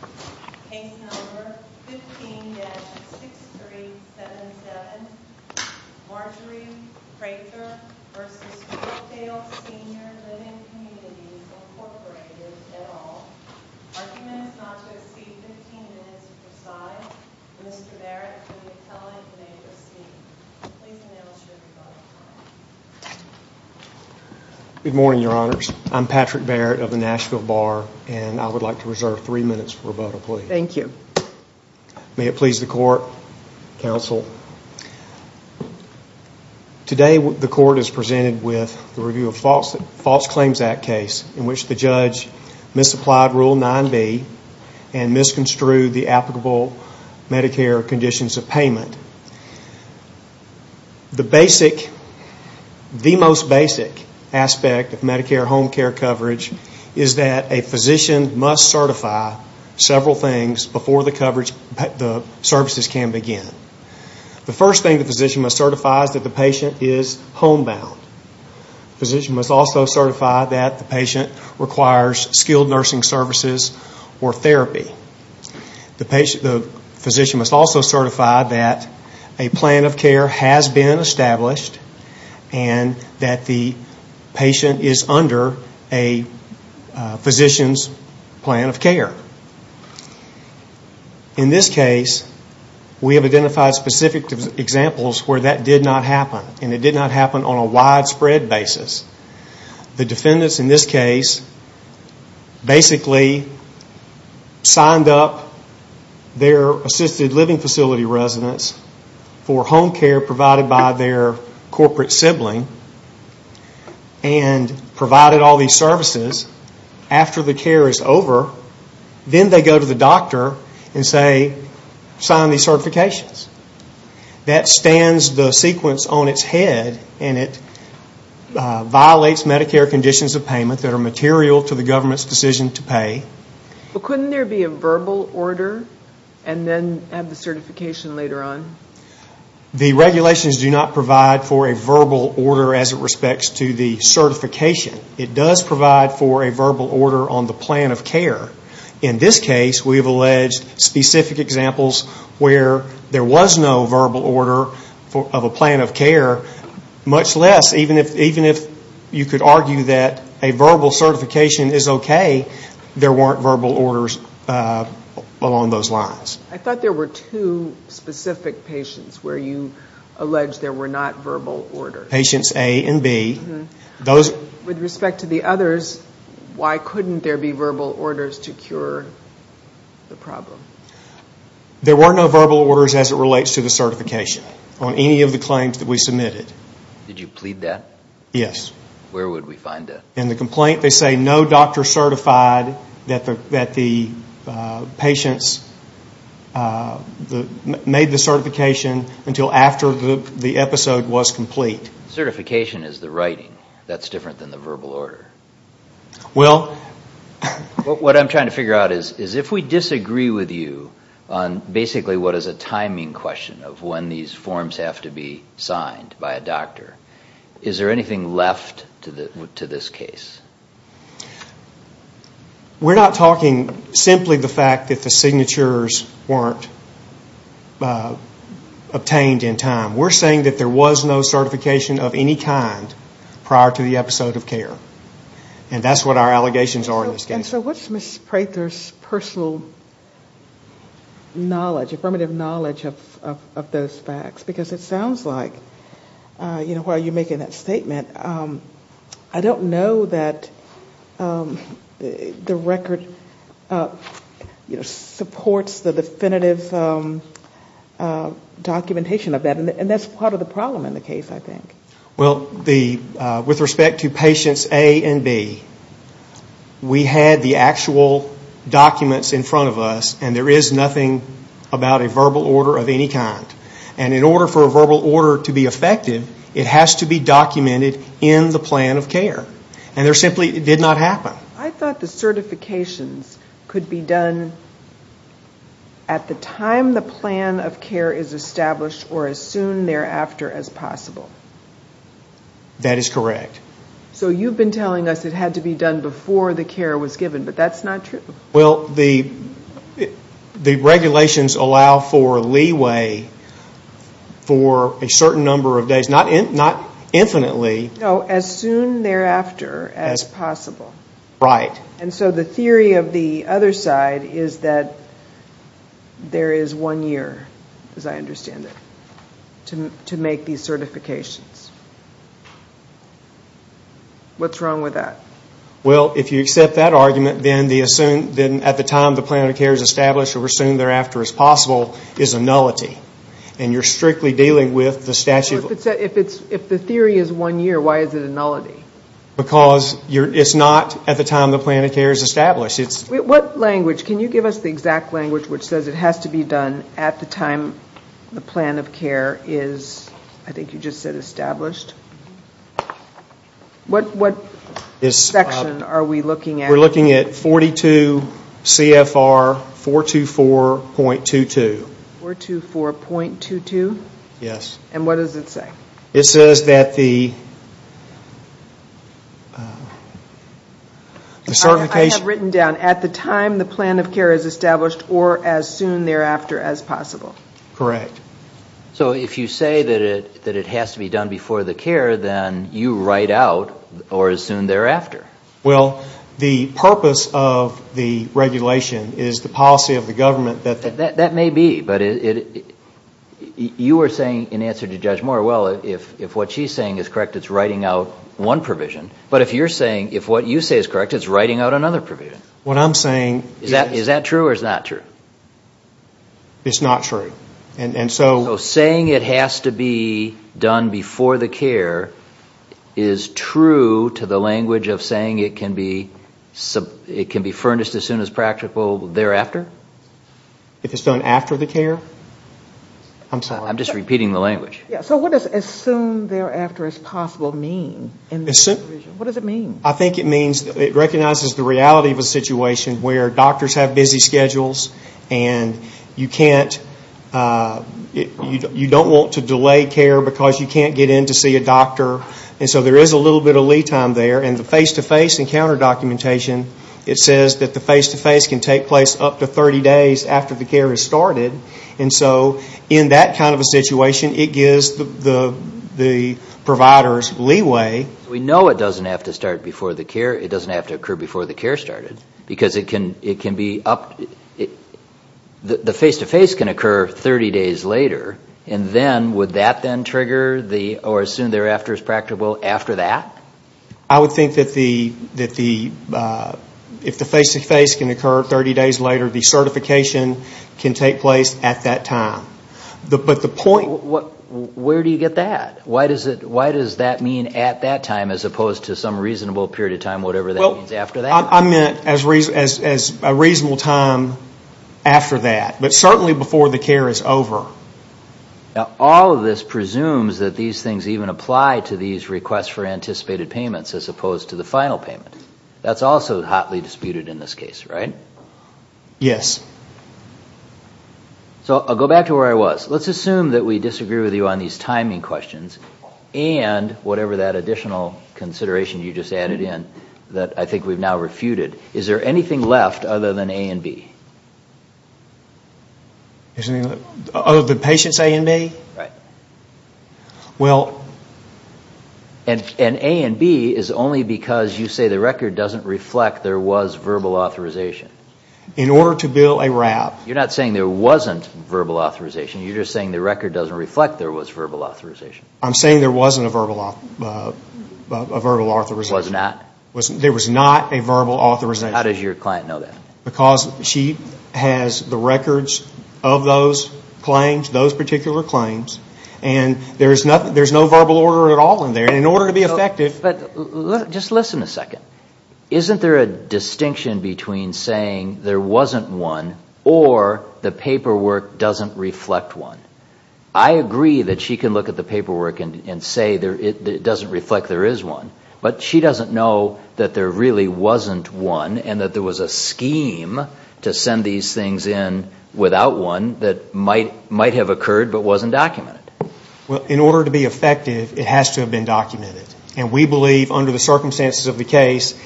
Incorporated et al. Arguments not to exceed 15 minutes or preside. Mr. Barrett for the appellate major speech. Please announce your rebuttal. Good morning, your honors. I'm Patrick Barrett of the Nashville Bar, and I would like to make my rebuttal plea. Thank you. May it please the court, counsel. Today the court is presented with the review of false claims act case in which the judge misapplied rule 9B and misconstrued the applicable Medicare conditions of payment. The basic, the most basic aspect of Medicare home care coverage is that a physician must certify several things before the services can begin. The first thing the physician must certify is that the patient is homebound. Physician must also certify that the patient requires skilled nursing services or therapy. The physician must also certify that a plan of care has been established and that the physician's plan of care. In this case, we have identified specific examples where that did not happen, and it did not happen on a widespread basis. The defendants in this case basically signed up their assisted living facility residents for home care provided by their corporate sibling and provided all these services. After the care is over, then they go to the doctor and say, sign these certifications. That stands the sequence on its head, and it violates Medicare conditions of payment that are material to the government's decision to pay. Couldn't there be a verbal order and then have the certification later on? The regulations do not provide for a verbal order as it respects to the certification. It does provide for a verbal order on the plan of care. In this case, we have alleged specific examples where there was no verbal order of a plan of care, much less, even if you could argue that a verbal certification is okay, there weren't verbal orders along those lines. I thought there were two specific patients where you alleged there were not verbal orders. Patients A and B. With respect to the others, why couldn't there be verbal orders to cure the problem? There were no verbal orders as it relates to the certification on any of the claims that we submitted. Did you plead that? Yes. Where would we find that? In the complaint, they say no doctor certified that the patients made the certification until after the episode was complete. Certification is the writing. That's different than the verbal order. What I'm trying to figure out is if we disagree with you on basically what is a timing question of when these forms have to be signed by a doctor. Is there anything left to this case? We're not talking simply the fact that the signatures weren't obtained in time. We're saying that there was no certification of any kind prior to the episode of care. That's what our allegations are in this case. What's Ms. Prather's personal knowledge, affirmative knowledge of those facts? It sounds like while you're making that statement, I don't know that the record supports the definitive documentation of that. That's part of the problem in the case, I think. Well, with respect to patients A and B, we had the actual documents in front of us and there is nothing about a verbal order of any kind. And in order for a verbal order to be effective, it has to be documented in the plan of care. And there simply did not happen. I thought the certifications could be done at the time the plan of care is established or as soon thereafter as possible. That is correct. So you've been telling us it had to be done before the care was given, but that's not true. The regulations allow for leeway for a certain number of days, not infinitely. No, as soon thereafter as possible. And so the theory of the other side is that there is one year, as I understand it, to make these certifications. What's wrong with that? Well, if you accept that argument, then at the time the plan of care is established or as soon thereafter as possible is a nullity. And you're strictly dealing with the statute. If the theory is one year, why is it a nullity? Because it's not at the time the plan of care is established. What language, can you give us the exact language which says it has to be done at the time the plan of care is, I think you just said established? What section are we looking at? We're looking at 42 CFR 424.22. 424.22? Yes. And what does it say? It says that the certification... I have written down, at the time the plan of care is established or as soon thereafter as possible. Correct. So if you say that it has to be done before the care, then you write out or as soon thereafter. Well, the purpose of the regulation is the policy of the government that... If what she's saying is correct, it's writing out one provision. But if you're saying, if what you say is correct, it's writing out another provision. What I'm saying is... Is that true or is it not true? It's not true. And so... So saying it has to be done before the care is true to the language of saying it can be furnished as soon as practical thereafter? If it's done after the care? I'm sorry. I'm just repeating the language. Yeah. So what does as soon thereafter as possible mean in this provision? What does it mean? I think it means, it recognizes the reality of a situation where doctors have busy schedules and you can't, you don't want to delay care because you can't get in to see a doctor. And so there is a little bit of lead time there. And the face-to-face and counter documentation, it says that the face-to-face can take place up to 30 days after the care has started. And so in that kind of a situation, it gives the providers leeway. We know it doesn't have to start before the care. It doesn't have to occur before the care started. Because it can be up, the face-to-face can occur 30 days later. And then, would that then trigger the, or as soon thereafter as practical after that? I would think that the, if the face-to-face can occur 30 days later, the certification can take place at that time. But the point. Where do you get that? Why does that mean at that time as opposed to some reasonable period of time, whatever that means after that? I meant as a reasonable time after that. But certainly before the care is over. All of this presumes that these things even apply to these requests for anticipated payments as opposed to the final payment. That's also hotly disputed in this case, right? Yes. So I'll go back to where I was. Let's assume that we disagree with you on these timing questions and whatever that additional consideration you just added in that I think we've now refuted. Is there anything left other than A and B? Other than patients A and B? Right. Well. And A and B is only because you say the record doesn't reflect there was verbal authorization. In order to bill a wrap. You're not saying there wasn't verbal authorization. You're just saying the record doesn't reflect there was verbal authorization. I'm saying there wasn't a verbal authorization. Was not? There was not a verbal authorization. How does your client know that? Because she has the records of those claims, those particular claims. And there's no verbal order at all in there. And in order to be effective. But just listen a second. Isn't there a distinction between saying there wasn't one or the paperwork doesn't reflect one? I agree that she can look at the paperwork and say it doesn't reflect there is one. But she doesn't know that there really wasn't one. And that there was a scheme to send these things in without one that might have occurred but wasn't documented. Well, in order to be effective, it has to have been documented. And we believe under the circumstances of the case,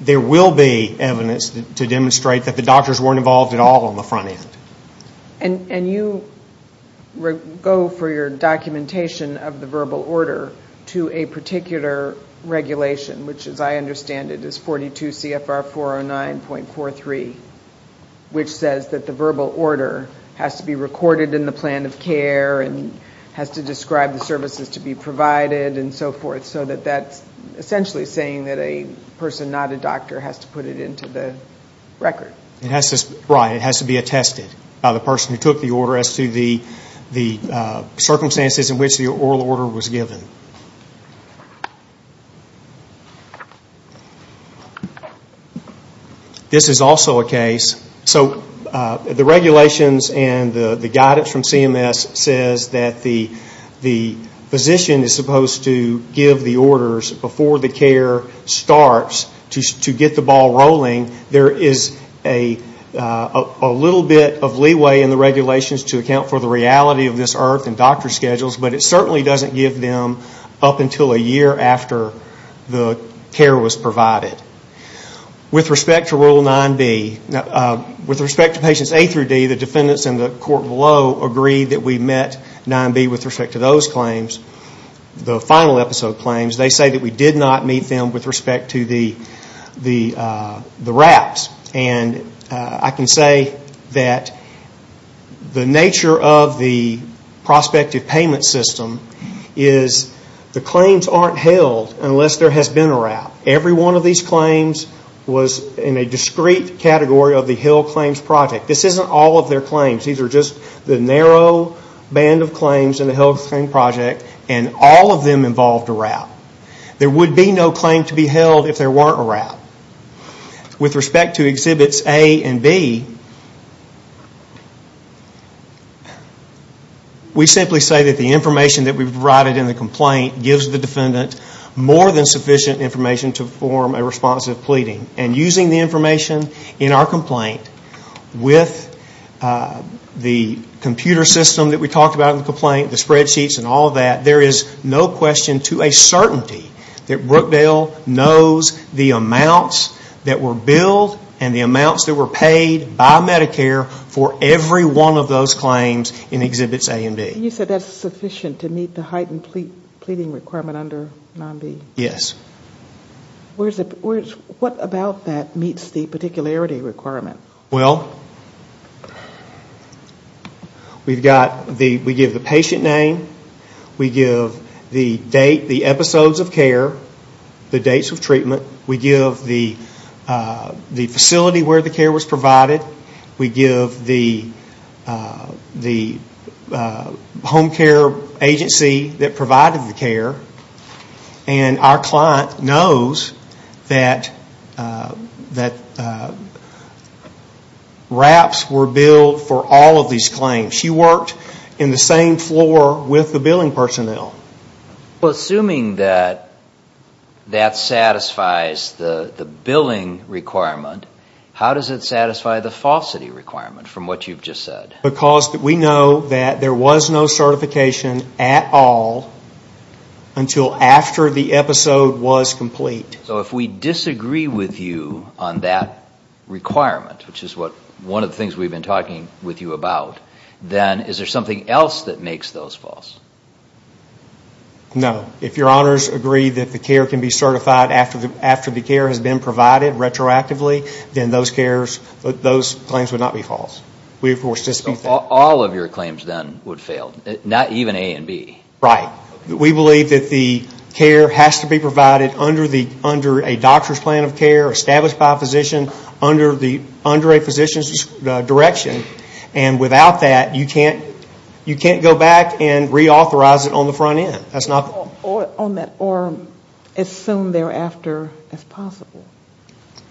there will be evidence to demonstrate that the doctors weren't involved at all on the front end. And you go for your documentation of the verbal order to a particular regulation, which as I understand it is 42 CFR 409.43, which says that the verbal order has to be recorded in the plan of care and has to describe the services to be provided and so forth, so that that's essentially saying that a person, not a doctor, has to put it into the record. Right, it has to be attested by the person who took the order as to the circumstances in which the oral order was given. This is also a case. So the regulations and the guidance from CMS says that the physician is supposed to give the orders before the care starts to get the ball rolling. There is a little bit of leeway in the regulations to account for the reality of this IRF and doctor schedules, but it certainly doesn't give them up until a year after the care was provided. With respect to Rule 9b, with respect to patients A through D, the defendants in the court below agree that we met 9b with respect to those claims, the final episode claims. They say that we did not meet them with respect to the wraps. And I can say that the nature of the prospective payment system is the claims aren't held unless there has been a wrap. Every one of these claims was in a discrete category of the Hill Claims Project. This isn't all of their claims. These are just the narrow band of claims in the Hill Claims Project, and all of them involved a wrap. There would be no claim to be held if there weren't a wrap. With respect to Exhibits A and B, we simply say that the information that we've provided in the complaint gives the defendant more than sufficient information to form a responsive pleading. And using the information in our complaint with the computer system that we talked about in the complaint, the spreadsheets and all of that, there is no question to a certainty that Brookdale knows the amounts that were billed and the amounts that were paid by Medicare for every one of those claims in Exhibits A and B. You said that's sufficient to meet the heightened pleading requirement under 9b? Yes. What about that meets the particularity requirement? Well, we give the patient name, we give the date, the episodes of care, the dates of treatment, we give the facility where the care was provided, we give the home care agency that provided the care, and our client knows that wraps were billed for all of these claims. She worked in the same floor with the billing personnel. Well, assuming that that satisfies the billing requirement, how does it satisfy the falsity requirement from what you've just said? Because we know that there was no certification at all until after the episode was complete. So if we disagree with you on that requirement, which is one of the things we've been talking with you about, then is there something else that makes those false? No. If your honors agree that the care can be certified after the care has been provided retroactively, then those claims would not be false. So all of your claims then would fail, not even A and B? Right. We believe that the care has to be provided under a doctor's plan of care, established by a physician, under a physician's direction, and without that, you can't go back and reauthorize it on the front end. Or as soon thereafter as possible.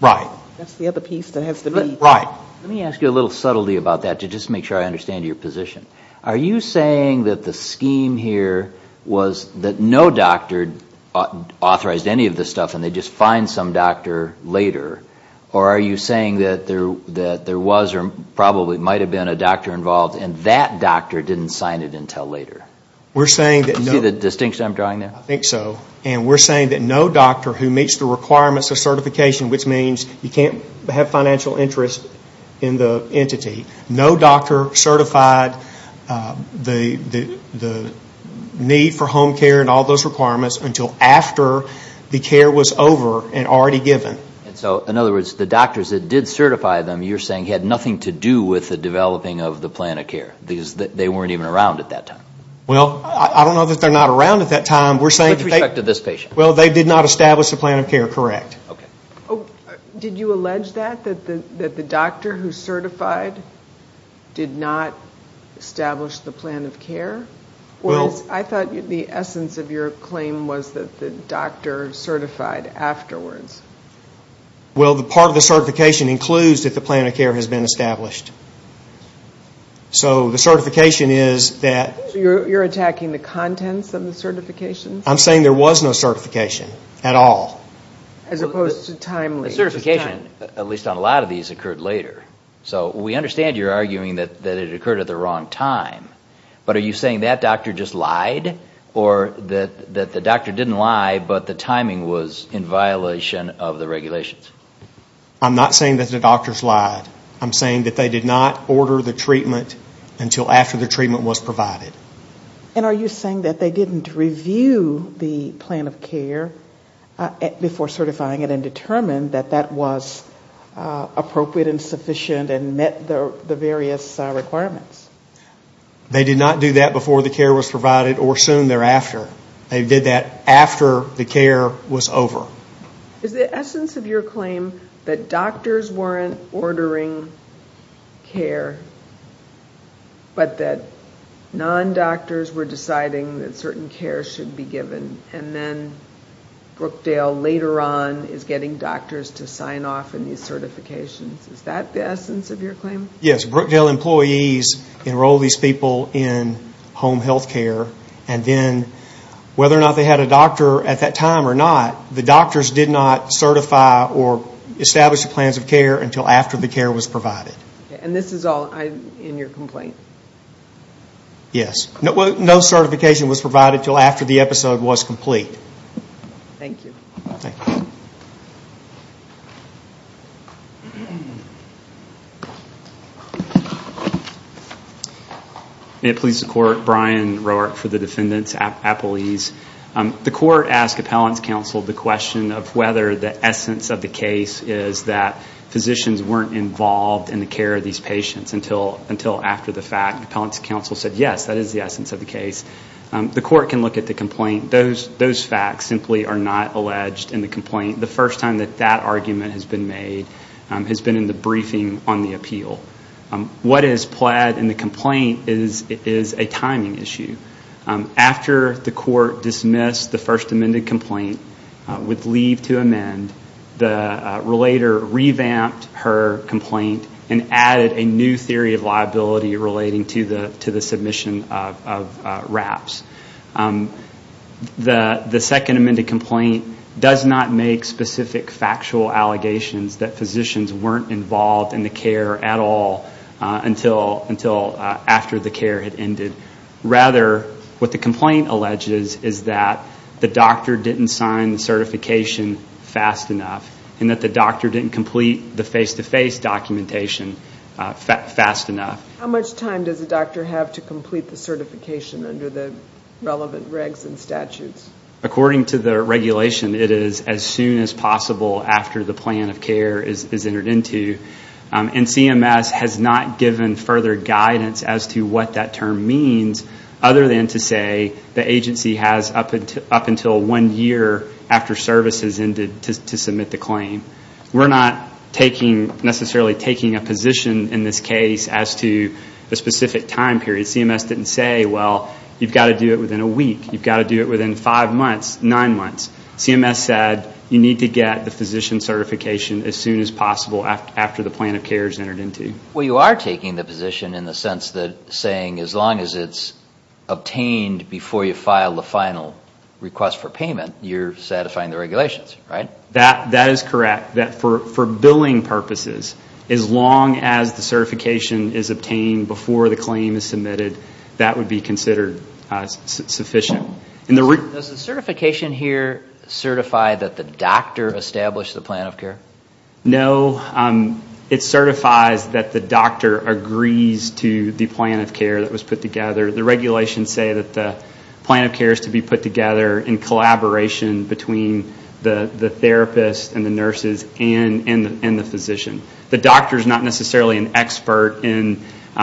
Right. That's the other piece that has to be. Right. Let me ask you a little subtlety about that to just make sure I understand your position. Are you saying that the scheme here was that no doctor authorized any of this stuff and they just fined some doctor later? Or are you saying that there was or probably might have been a doctor involved and that doctor didn't sign it until later? Do you see the distinction I'm drawing there? I think so. And we're saying that no doctor who meets the requirements of certification, which means you can't have financial interest in the entity, no doctor certified the need for home care and all those requirements until after the care was over and already given. So, in other words, the doctors that did certify them, you're saying, had nothing to do with the developing of the plan of care because they weren't even around at that time? Well, I don't know that they're not around at that time. With respect to this patient? Well, they did not establish the plan of care, correct. Okay. Did you allege that, that the doctor who certified did not establish the plan of care? Well, I thought the essence of your claim was that the doctor certified afterwards. Well, part of the certification includes that the plan of care has been established. So the certification is that. So you're attacking the contents of the certification? I'm saying there was no certification at all. As opposed to timely. The certification, at least on a lot of these, occurred later. So we understand you're arguing that it occurred at the wrong time, but are you saying that doctor just lied or that the doctor didn't lie but the timing was in violation of the regulations? I'm not saying that the doctors lied. I'm saying that they did not order the treatment until after the treatment was provided. And are you saying that they didn't review the plan of care before certifying it and determine that that was appropriate and sufficient and met the various requirements? They did not do that before the care was provided or soon thereafter. They did that after the care was over. Is the essence of your claim that doctors weren't ordering care but that non-doctors were deciding that certain care should be given and then Brookdale later on is getting doctors to sign off on these certifications? Is that the essence of your claim? Yes. Brookdale employees enroll these people in home health care and then whether or not they had a doctor at that time or not, the doctors did not certify or establish the plans of care until after the care was provided. And this is all in your complaint? Yes. No certification was provided until after the episode was complete. Thank you. Thank you. May it please the Court. Brian Roark for the Defendant's Appellees. The Court asked Appellant's Counsel the question of whether the essence of the case is that physicians weren't involved in the care of these patients until after the fact. Appellant's Counsel said yes, that is the essence of the case. The Court can look at the complaint. Those facts simply are not alleged in the complaint. The first time that that argument has been made has been in the briefing on the appeal. What is plaid in the complaint is a timing issue. After the Court dismissed the first amended complaint with leave to amend, the relator revamped her complaint and added a new theory of liability relating to the submission of wraps. The second amended complaint does not make specific factual allegations that physicians weren't involved in the care at all until after the care had ended. Rather, what the complaint alleges is that the doctor didn't sign the certification fast enough and that the doctor didn't complete the face-to-face documentation fast enough. How much time does a doctor have to complete the certification under the relevant regs and statutes? According to the regulation, it is as soon as possible after the plan of care is entered into. CMS has not given further guidance as to what that term means other than to say the agency has up until one year after service has ended to submit the claim. We're not necessarily taking a position in this case as to a specific time period. CMS didn't say, well, you've got to do it within a week. You've got to do it within five months, nine months. CMS said you need to get the physician certification as soon as possible after the plan of care is entered into. Well, you are taking the position in the sense that saying as long as it's obtained before you file the final request for payment, you're satisfying the regulations, right? That is correct. For billing purposes, as long as the certification is obtained before the claim is submitted, that would be considered sufficient. Does the certification here certify that the doctor established the plan of care? No. It certifies that the doctor agrees to the plan of care that was put together. The regulations say that the plan of care is to be put together in collaboration between the therapist and the nurses and the physician. The doctor is not necessarily an expert in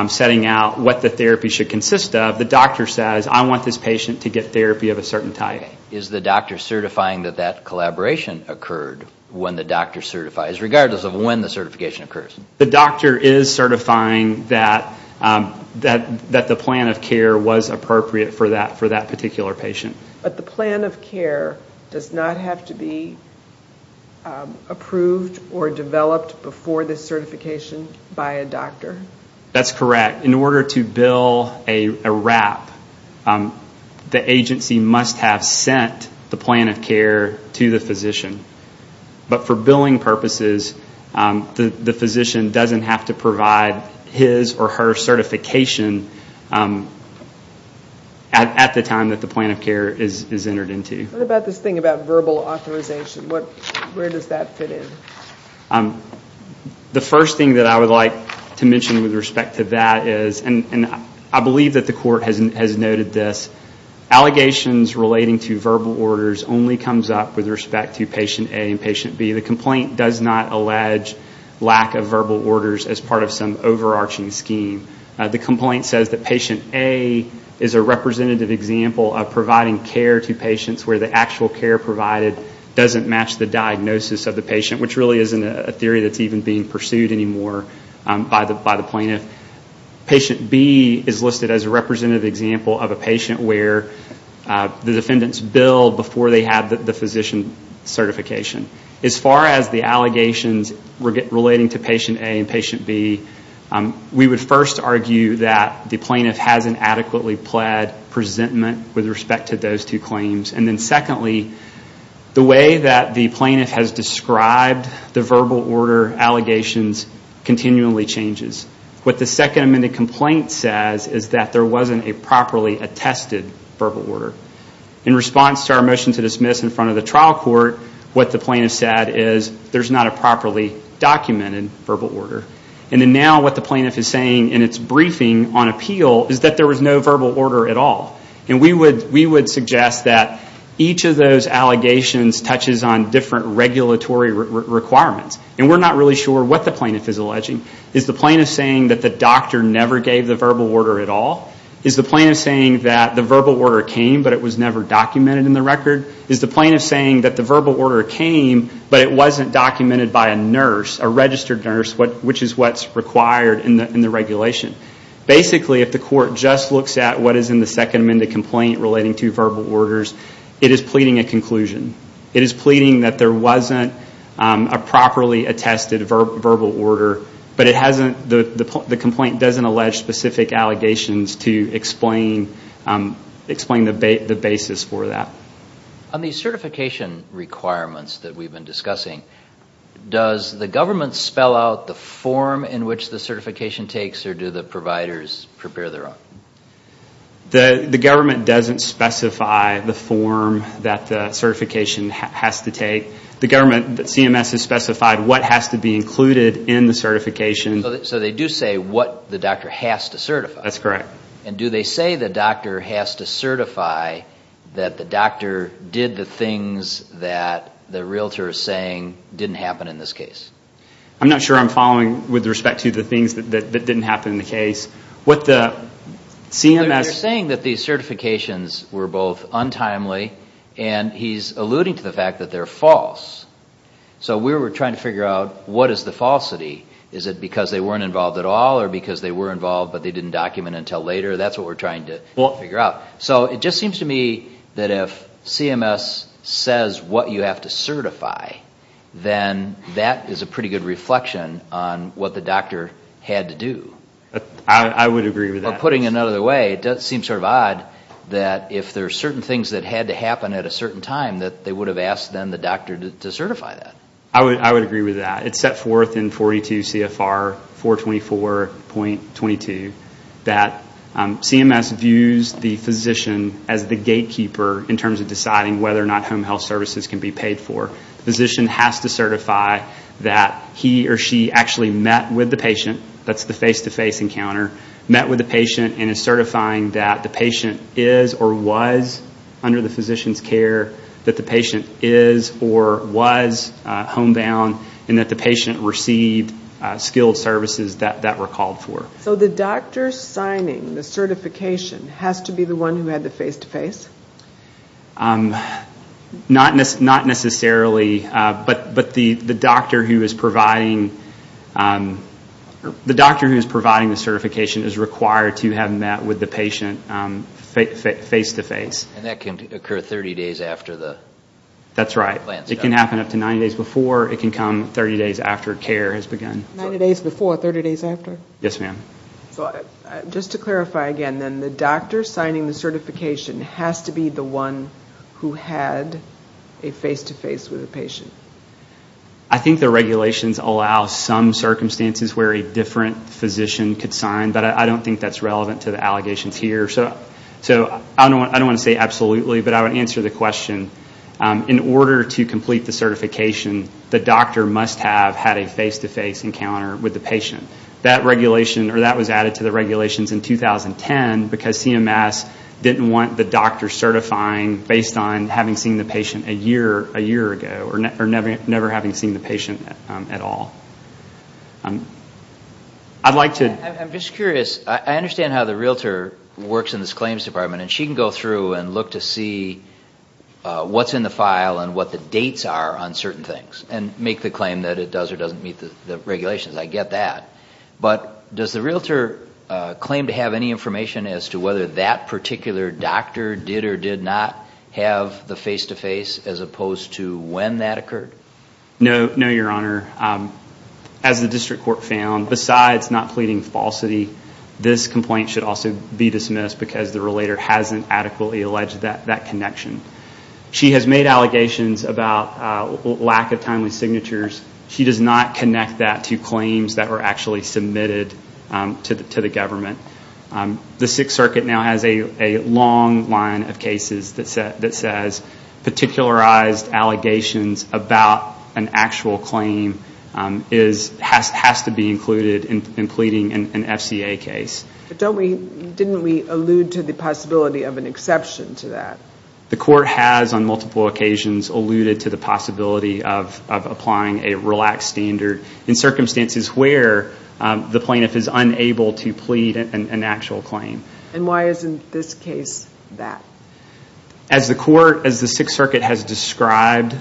setting out what the therapy should consist of. The doctor says, I want this patient to get therapy of a certain type. Is the doctor certifying that that collaboration occurred when the doctor certifies, regardless of when the certification occurs? The doctor is certifying that the plan of care was appropriate for that particular patient. But the plan of care does not have to be approved or developed before the certification by a doctor? That's correct. In order to bill a wrap, the agency must have sent the plan of care to the physician. But for billing purposes, the physician doesn't have to provide his or her certification at the time that the plan of care is entered into. What about this thing about verbal authorization? Where does that fit in? The first thing that I would like to mention with respect to that is, and I believe that the court has noted this, allegations relating to verbal orders only comes up with respect to patient A and patient B. The complaint does not allege lack of verbal orders as part of some overarching scheme. The complaint says that patient A is a representative example of providing care to patients where the actual care provided doesn't match the diagnosis of the patient, which really isn't a theory that's even being pursued anymore by the plaintiff. Patient B is listed as a representative example of a patient where the defendants billed before they had the physician certification. As far as the allegations relating to patient A and patient B, we would first argue that the plaintiff hasn't adequately pled presentment with respect to those two claims. Secondly, the way that the plaintiff has described the verbal order allegations continually changes. What the second amended complaint says is that there wasn't a properly attested verbal order. In response to our motion to dismiss in front of the trial court, what the plaintiff said is there's not a properly documented verbal order. Now what the plaintiff is saying in its briefing on appeal is that there was no verbal order at all. We would suggest that each of those allegations touches on different regulatory requirements. We're not really sure what the plaintiff is alleging. Is the plaintiff saying that the doctor never gave the verbal order at all? Is the plaintiff saying that the verbal order came but it was never documented in the record? Is the plaintiff saying that the verbal order came but it wasn't documented by a nurse, a registered nurse, which is what's required in the regulation? Basically, if the court just looks at what is in the second amended complaint relating to verbal orders, it is pleading a conclusion. It is pleading that there wasn't a properly attested verbal order, but the complaint doesn't allege specific allegations to explain the basis for that. On the certification requirements that we've been discussing, does the government spell out the form in which the certification takes or do the providers prepare their own? The government doesn't specify the form that the certification has to take. The government, CMS, has specified what has to be included in the certification. So they do say what the doctor has to certify? That's correct. And do they say the doctor has to certify that the doctor did the things that the realtor is saying didn't happen in this case? I'm not sure I'm following with respect to the things that didn't happen in the case. They're saying that these certifications were both untimely, and he's alluding to the fact that they're false. So we were trying to figure out what is the falsity. Is it because they weren't involved at all or because they were involved but they didn't document until later? That's what we're trying to figure out. So it just seems to me that if CMS says what you have to certify, then that is a pretty good reflection on what the doctor had to do. I would agree with that. Putting it another way, it does seem sort of odd that if there are certain things that had to happen at a certain time, that they would have asked then the doctor to certify that. I would agree with that. It's set forth in 42 CFR 424.22 that CMS views the physician as the gatekeeper in terms of deciding whether or not home health services can be paid for. The physician has to certify that he or she actually met with the patient. That's the face-to-face encounter. Met with the patient and is certifying that the patient is or was under the physician's care, that the patient is or was homebound, and that the patient received skilled services that were called for. So the doctor signing the certification has to be the one who had the face-to-face? Not necessarily, but the doctor who is providing the certification is required to have met with the patient face-to-face. And that can occur 30 days after the plan starts? That's right. It can happen up to 90 days before. It can come 30 days after care has begun. 90 days before, 30 days after? Yes, ma'am. Just to clarify again, then, the doctor signing the certification has to be the one who had a face-to-face with the patient? I think the regulations allow some circumstances where a different physician could sign, but I don't think that's relevant to the allegations here. So I don't want to say absolutely, but I would answer the question. In order to complete the certification, the doctor must have had a face-to-face encounter with the patient. That was added to the regulations in 2010 because CMS didn't want the doctor certifying based on having seen the patient a year ago or never having seen the patient at all. I'm just curious. I understand how the realtor works in this claims department, and she can go through and look to see what's in the file and what the dates are on certain things and make the claim that it does or doesn't meet the regulations. I get that. But does the realtor claim to have any information as to whether that particular doctor did or did not have the face-to-face as opposed to when that occurred? No, Your Honor. As the district court found, besides not pleading falsity, this complaint should also be dismissed because the relator hasn't adequately alleged that connection. She has made allegations about lack of timely signatures. She does not connect that to claims that were actually submitted to the government. The Sixth Circuit now has a long line of cases that says particularized allegations about an actual claim has to be included in pleading an FCA case. But didn't we allude to the possibility of an exception to that? The court has on multiple occasions alluded to the possibility of applying a relaxed standard in circumstances where the plaintiff is unable to plead an actual claim. And why isn't this case that? As the Sixth Circuit has described,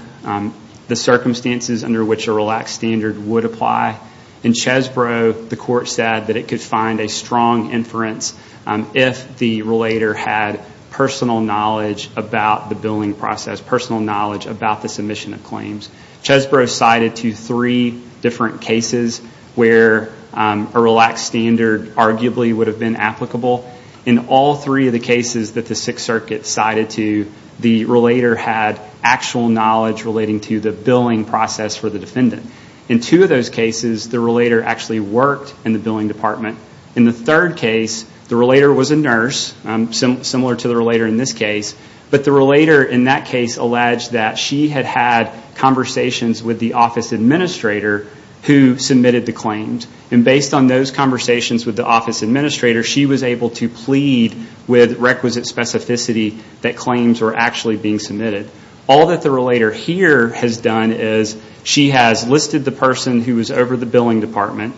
the circumstances under which a relaxed standard would apply, in Chesbrough, the court said that it could find a strong inference if the relator had personal knowledge about the billing process, personal knowledge about the submission of claims. Chesbrough cited to three different cases where a relaxed standard arguably would have been applicable. In all three of the cases that the Sixth Circuit cited to, the relator had actual knowledge relating to the billing process for the defendant. In two of those cases, the relator actually worked in the billing department. In the third case, the relator was a nurse, similar to the relator in this case, but the relator in that case alleged that she had had conversations with the office administrator who submitted the claims. And based on those conversations with the office administrator, she was able to plead with requisite specificity that claims were actually being submitted. All that the relator here has done is she has listed the person who was over the billing department,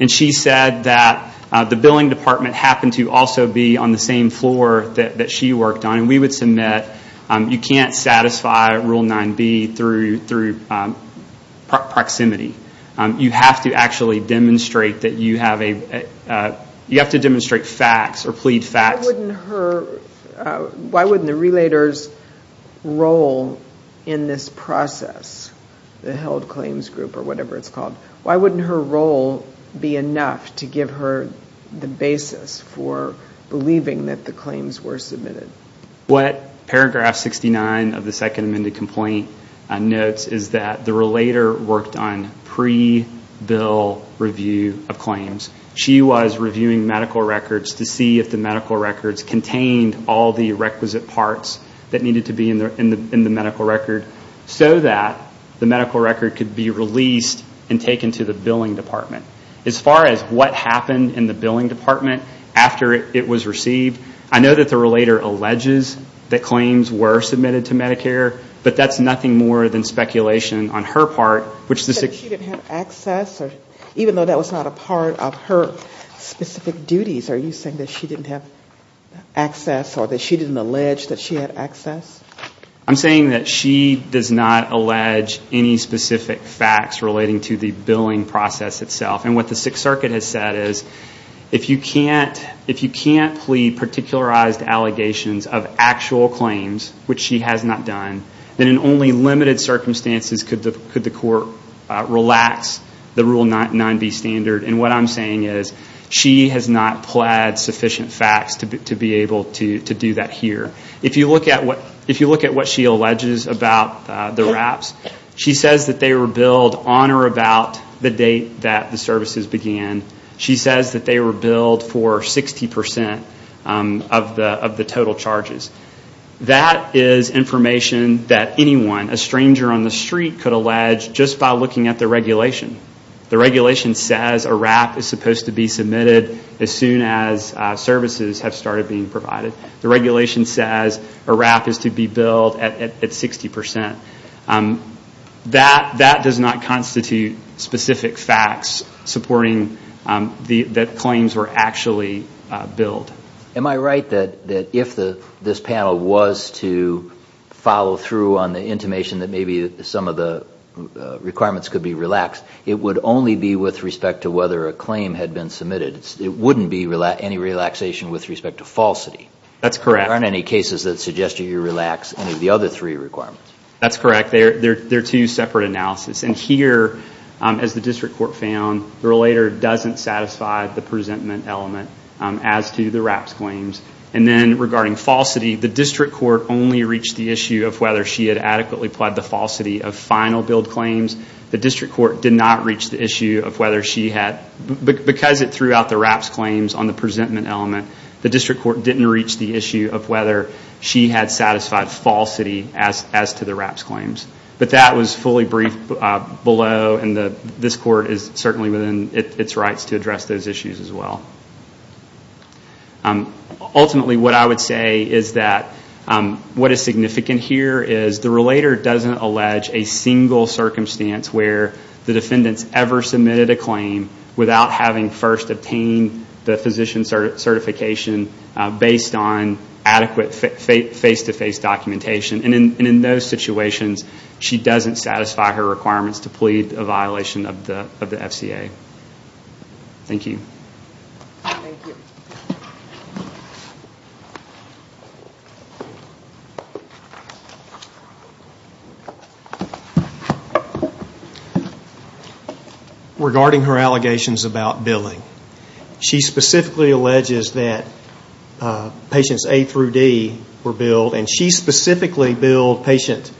and she said that the billing department happened to also be on the same floor that she worked on. And we would submit, you can't satisfy Rule 9b through proximity. You have to actually demonstrate that you have a, you have to demonstrate facts or plead facts. Why wouldn't her, why wouldn't the relator's role in this process, the held claims group or whatever it's called, why wouldn't her role be enough to give her the basis for believing that the claims were submitted? What paragraph 69 of the second amended complaint notes is that the relator worked on pre-bill review of claims. She was reviewing medical records to see if the medical records contained all the requisite parts that needed to be in the medical record, so that the medical record could be released and taken to the billing department. As far as what happened in the billing department after it was received, I know that the relator alleges that claims were submitted to Medicare, but that's nothing more than speculation on her part. She didn't have access? Even though that was not a part of her specific duties, are you saying that she didn't have access or that she didn't allege that she had access? I'm saying that she does not allege any specific facts relating to the billing process itself. And what the Sixth Circuit has said is, if you can't plead particularized allegations of actual claims, which she has not done, then in only limited circumstances could the court relax the Rule 9B standard. And what I'm saying is, she has not pled sufficient facts to be able to do that here. If you look at what she alleges about the wraps, she says that they were billed on or about the date that the services began. She says that they were billed for 60% of the total charges. That is information that anyone, a stranger on the street, could allege just by looking at the regulation. The regulation says a wrap is supposed to be submitted as soon as services have started being provided. The regulation says a wrap is to be billed at 60%. That does not constitute specific facts supporting that claims were actually billed. Am I right that if this panel was to follow through on the intimation that maybe some of the requirements could be relaxed, it would only be with respect to whether a claim had been submitted? It wouldn't be any relaxation with respect to falsity? That's correct. There aren't any cases that suggest you relax any of the other three requirements? That's correct. They're two separate analyses. And here, as the district court found, the relator doesn't satisfy the presentment element as to the wraps claims. And then regarding falsity, the district court only reached the issue of whether she had adequately pled the falsity of final billed claims. The district court did not reach the issue of whether she had, because it threw out the wraps claims on the presentment element, the district court didn't reach the issue of whether she had satisfied falsity as to the wraps claims. But that was fully briefed below. And this court is certainly within its rights to address those issues as well. Ultimately, what I would say is that what is significant here is the relator doesn't allege a single circumstance where the defendant's ever submitted a claim without having first obtained the physician certification based on adequate face-to-face documentation. And in those situations, she doesn't satisfy her requirements to plead a violation of the FCA. Thank you. Regarding her allegations about billing, she specifically alleges that patients A through D were billed and she specifically billed patient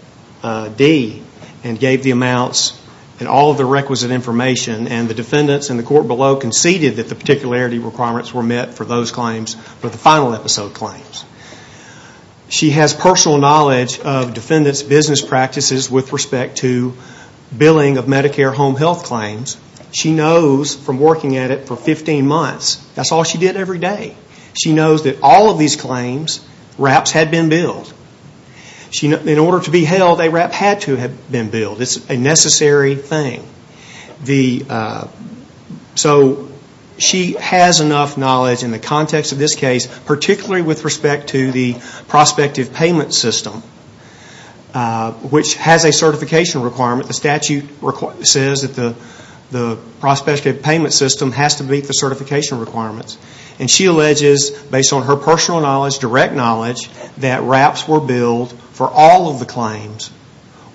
D and gave the amounts and all of the requisite information. And the defendants in the court below conceded that the particularity requirements were met for those claims, for the final episode claims. She has personal knowledge of defendants' business practices with respect to billing of Medicare home health claims. She knows from working at it for 15 months, that's all she did every day. She knows that all of these claims, wraps, had been billed. In order to be held, a wrap had to have been billed. It's a necessary thing. So she has enough knowledge in the context of this case, particularly with respect to the prospective payment system, which has a certification requirement. The statute says that the prospective payment system has to meet the certification requirements. And she alleges, based on her personal knowledge, direct knowledge, that wraps were billed for all of the claims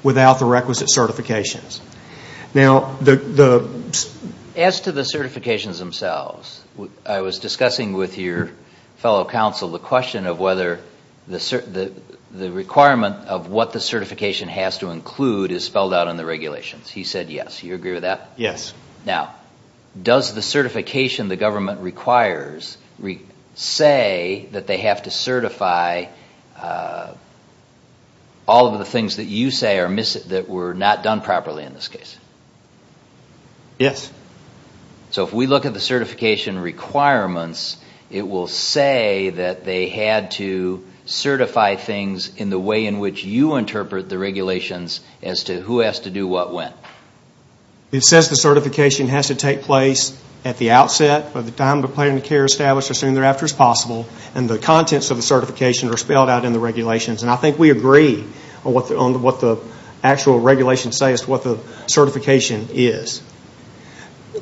without the requisite certifications. As to the certifications themselves, I was discussing with your fellow counsel the question of whether the requirement of what the certification has to include is spelled out in the regulations. He said yes. Do you agree with that? Yes. Now, does the certification the government requires say that they have to certify all of the things that you say were not done properly in this case? Yes. So if we look at the certification requirements, it will say that they had to certify things in the way in which you interpret the regulations as to who has to do what when. It says the certification has to take place at the outset, by the time the plan of care is established as soon thereafter as possible, and the contents of the certification are spelled out in the regulations. And I think we agree on what the actual regulations say as to what the certification is.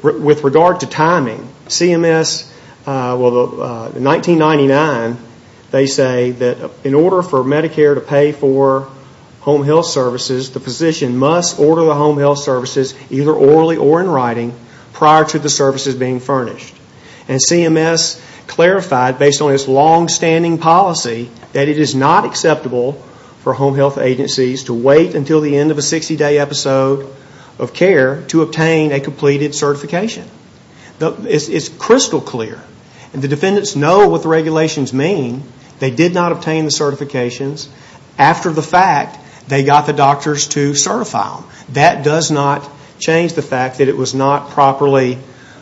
With regard to timing, CMS, well, in 1999, they say that in order for Medicare to pay for home health services, the physician must order the home health services either orally or in writing prior to the services being furnished. And CMS clarified, based on its longstanding policy, that it is not acceptable for home health agencies to wait until the end of a 60-day episode of care to obtain a completed certification. It's crystal clear. And the defendants know what the regulations mean. They did not obtain the certifications. After the fact, they got the doctors to certify them. That does not change the fact that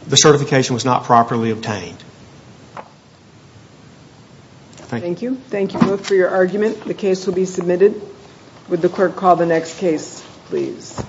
the certification was not properly obtained. Thank you. Thank you both for your argument. The case will be submitted. Would the clerk call the next case, please?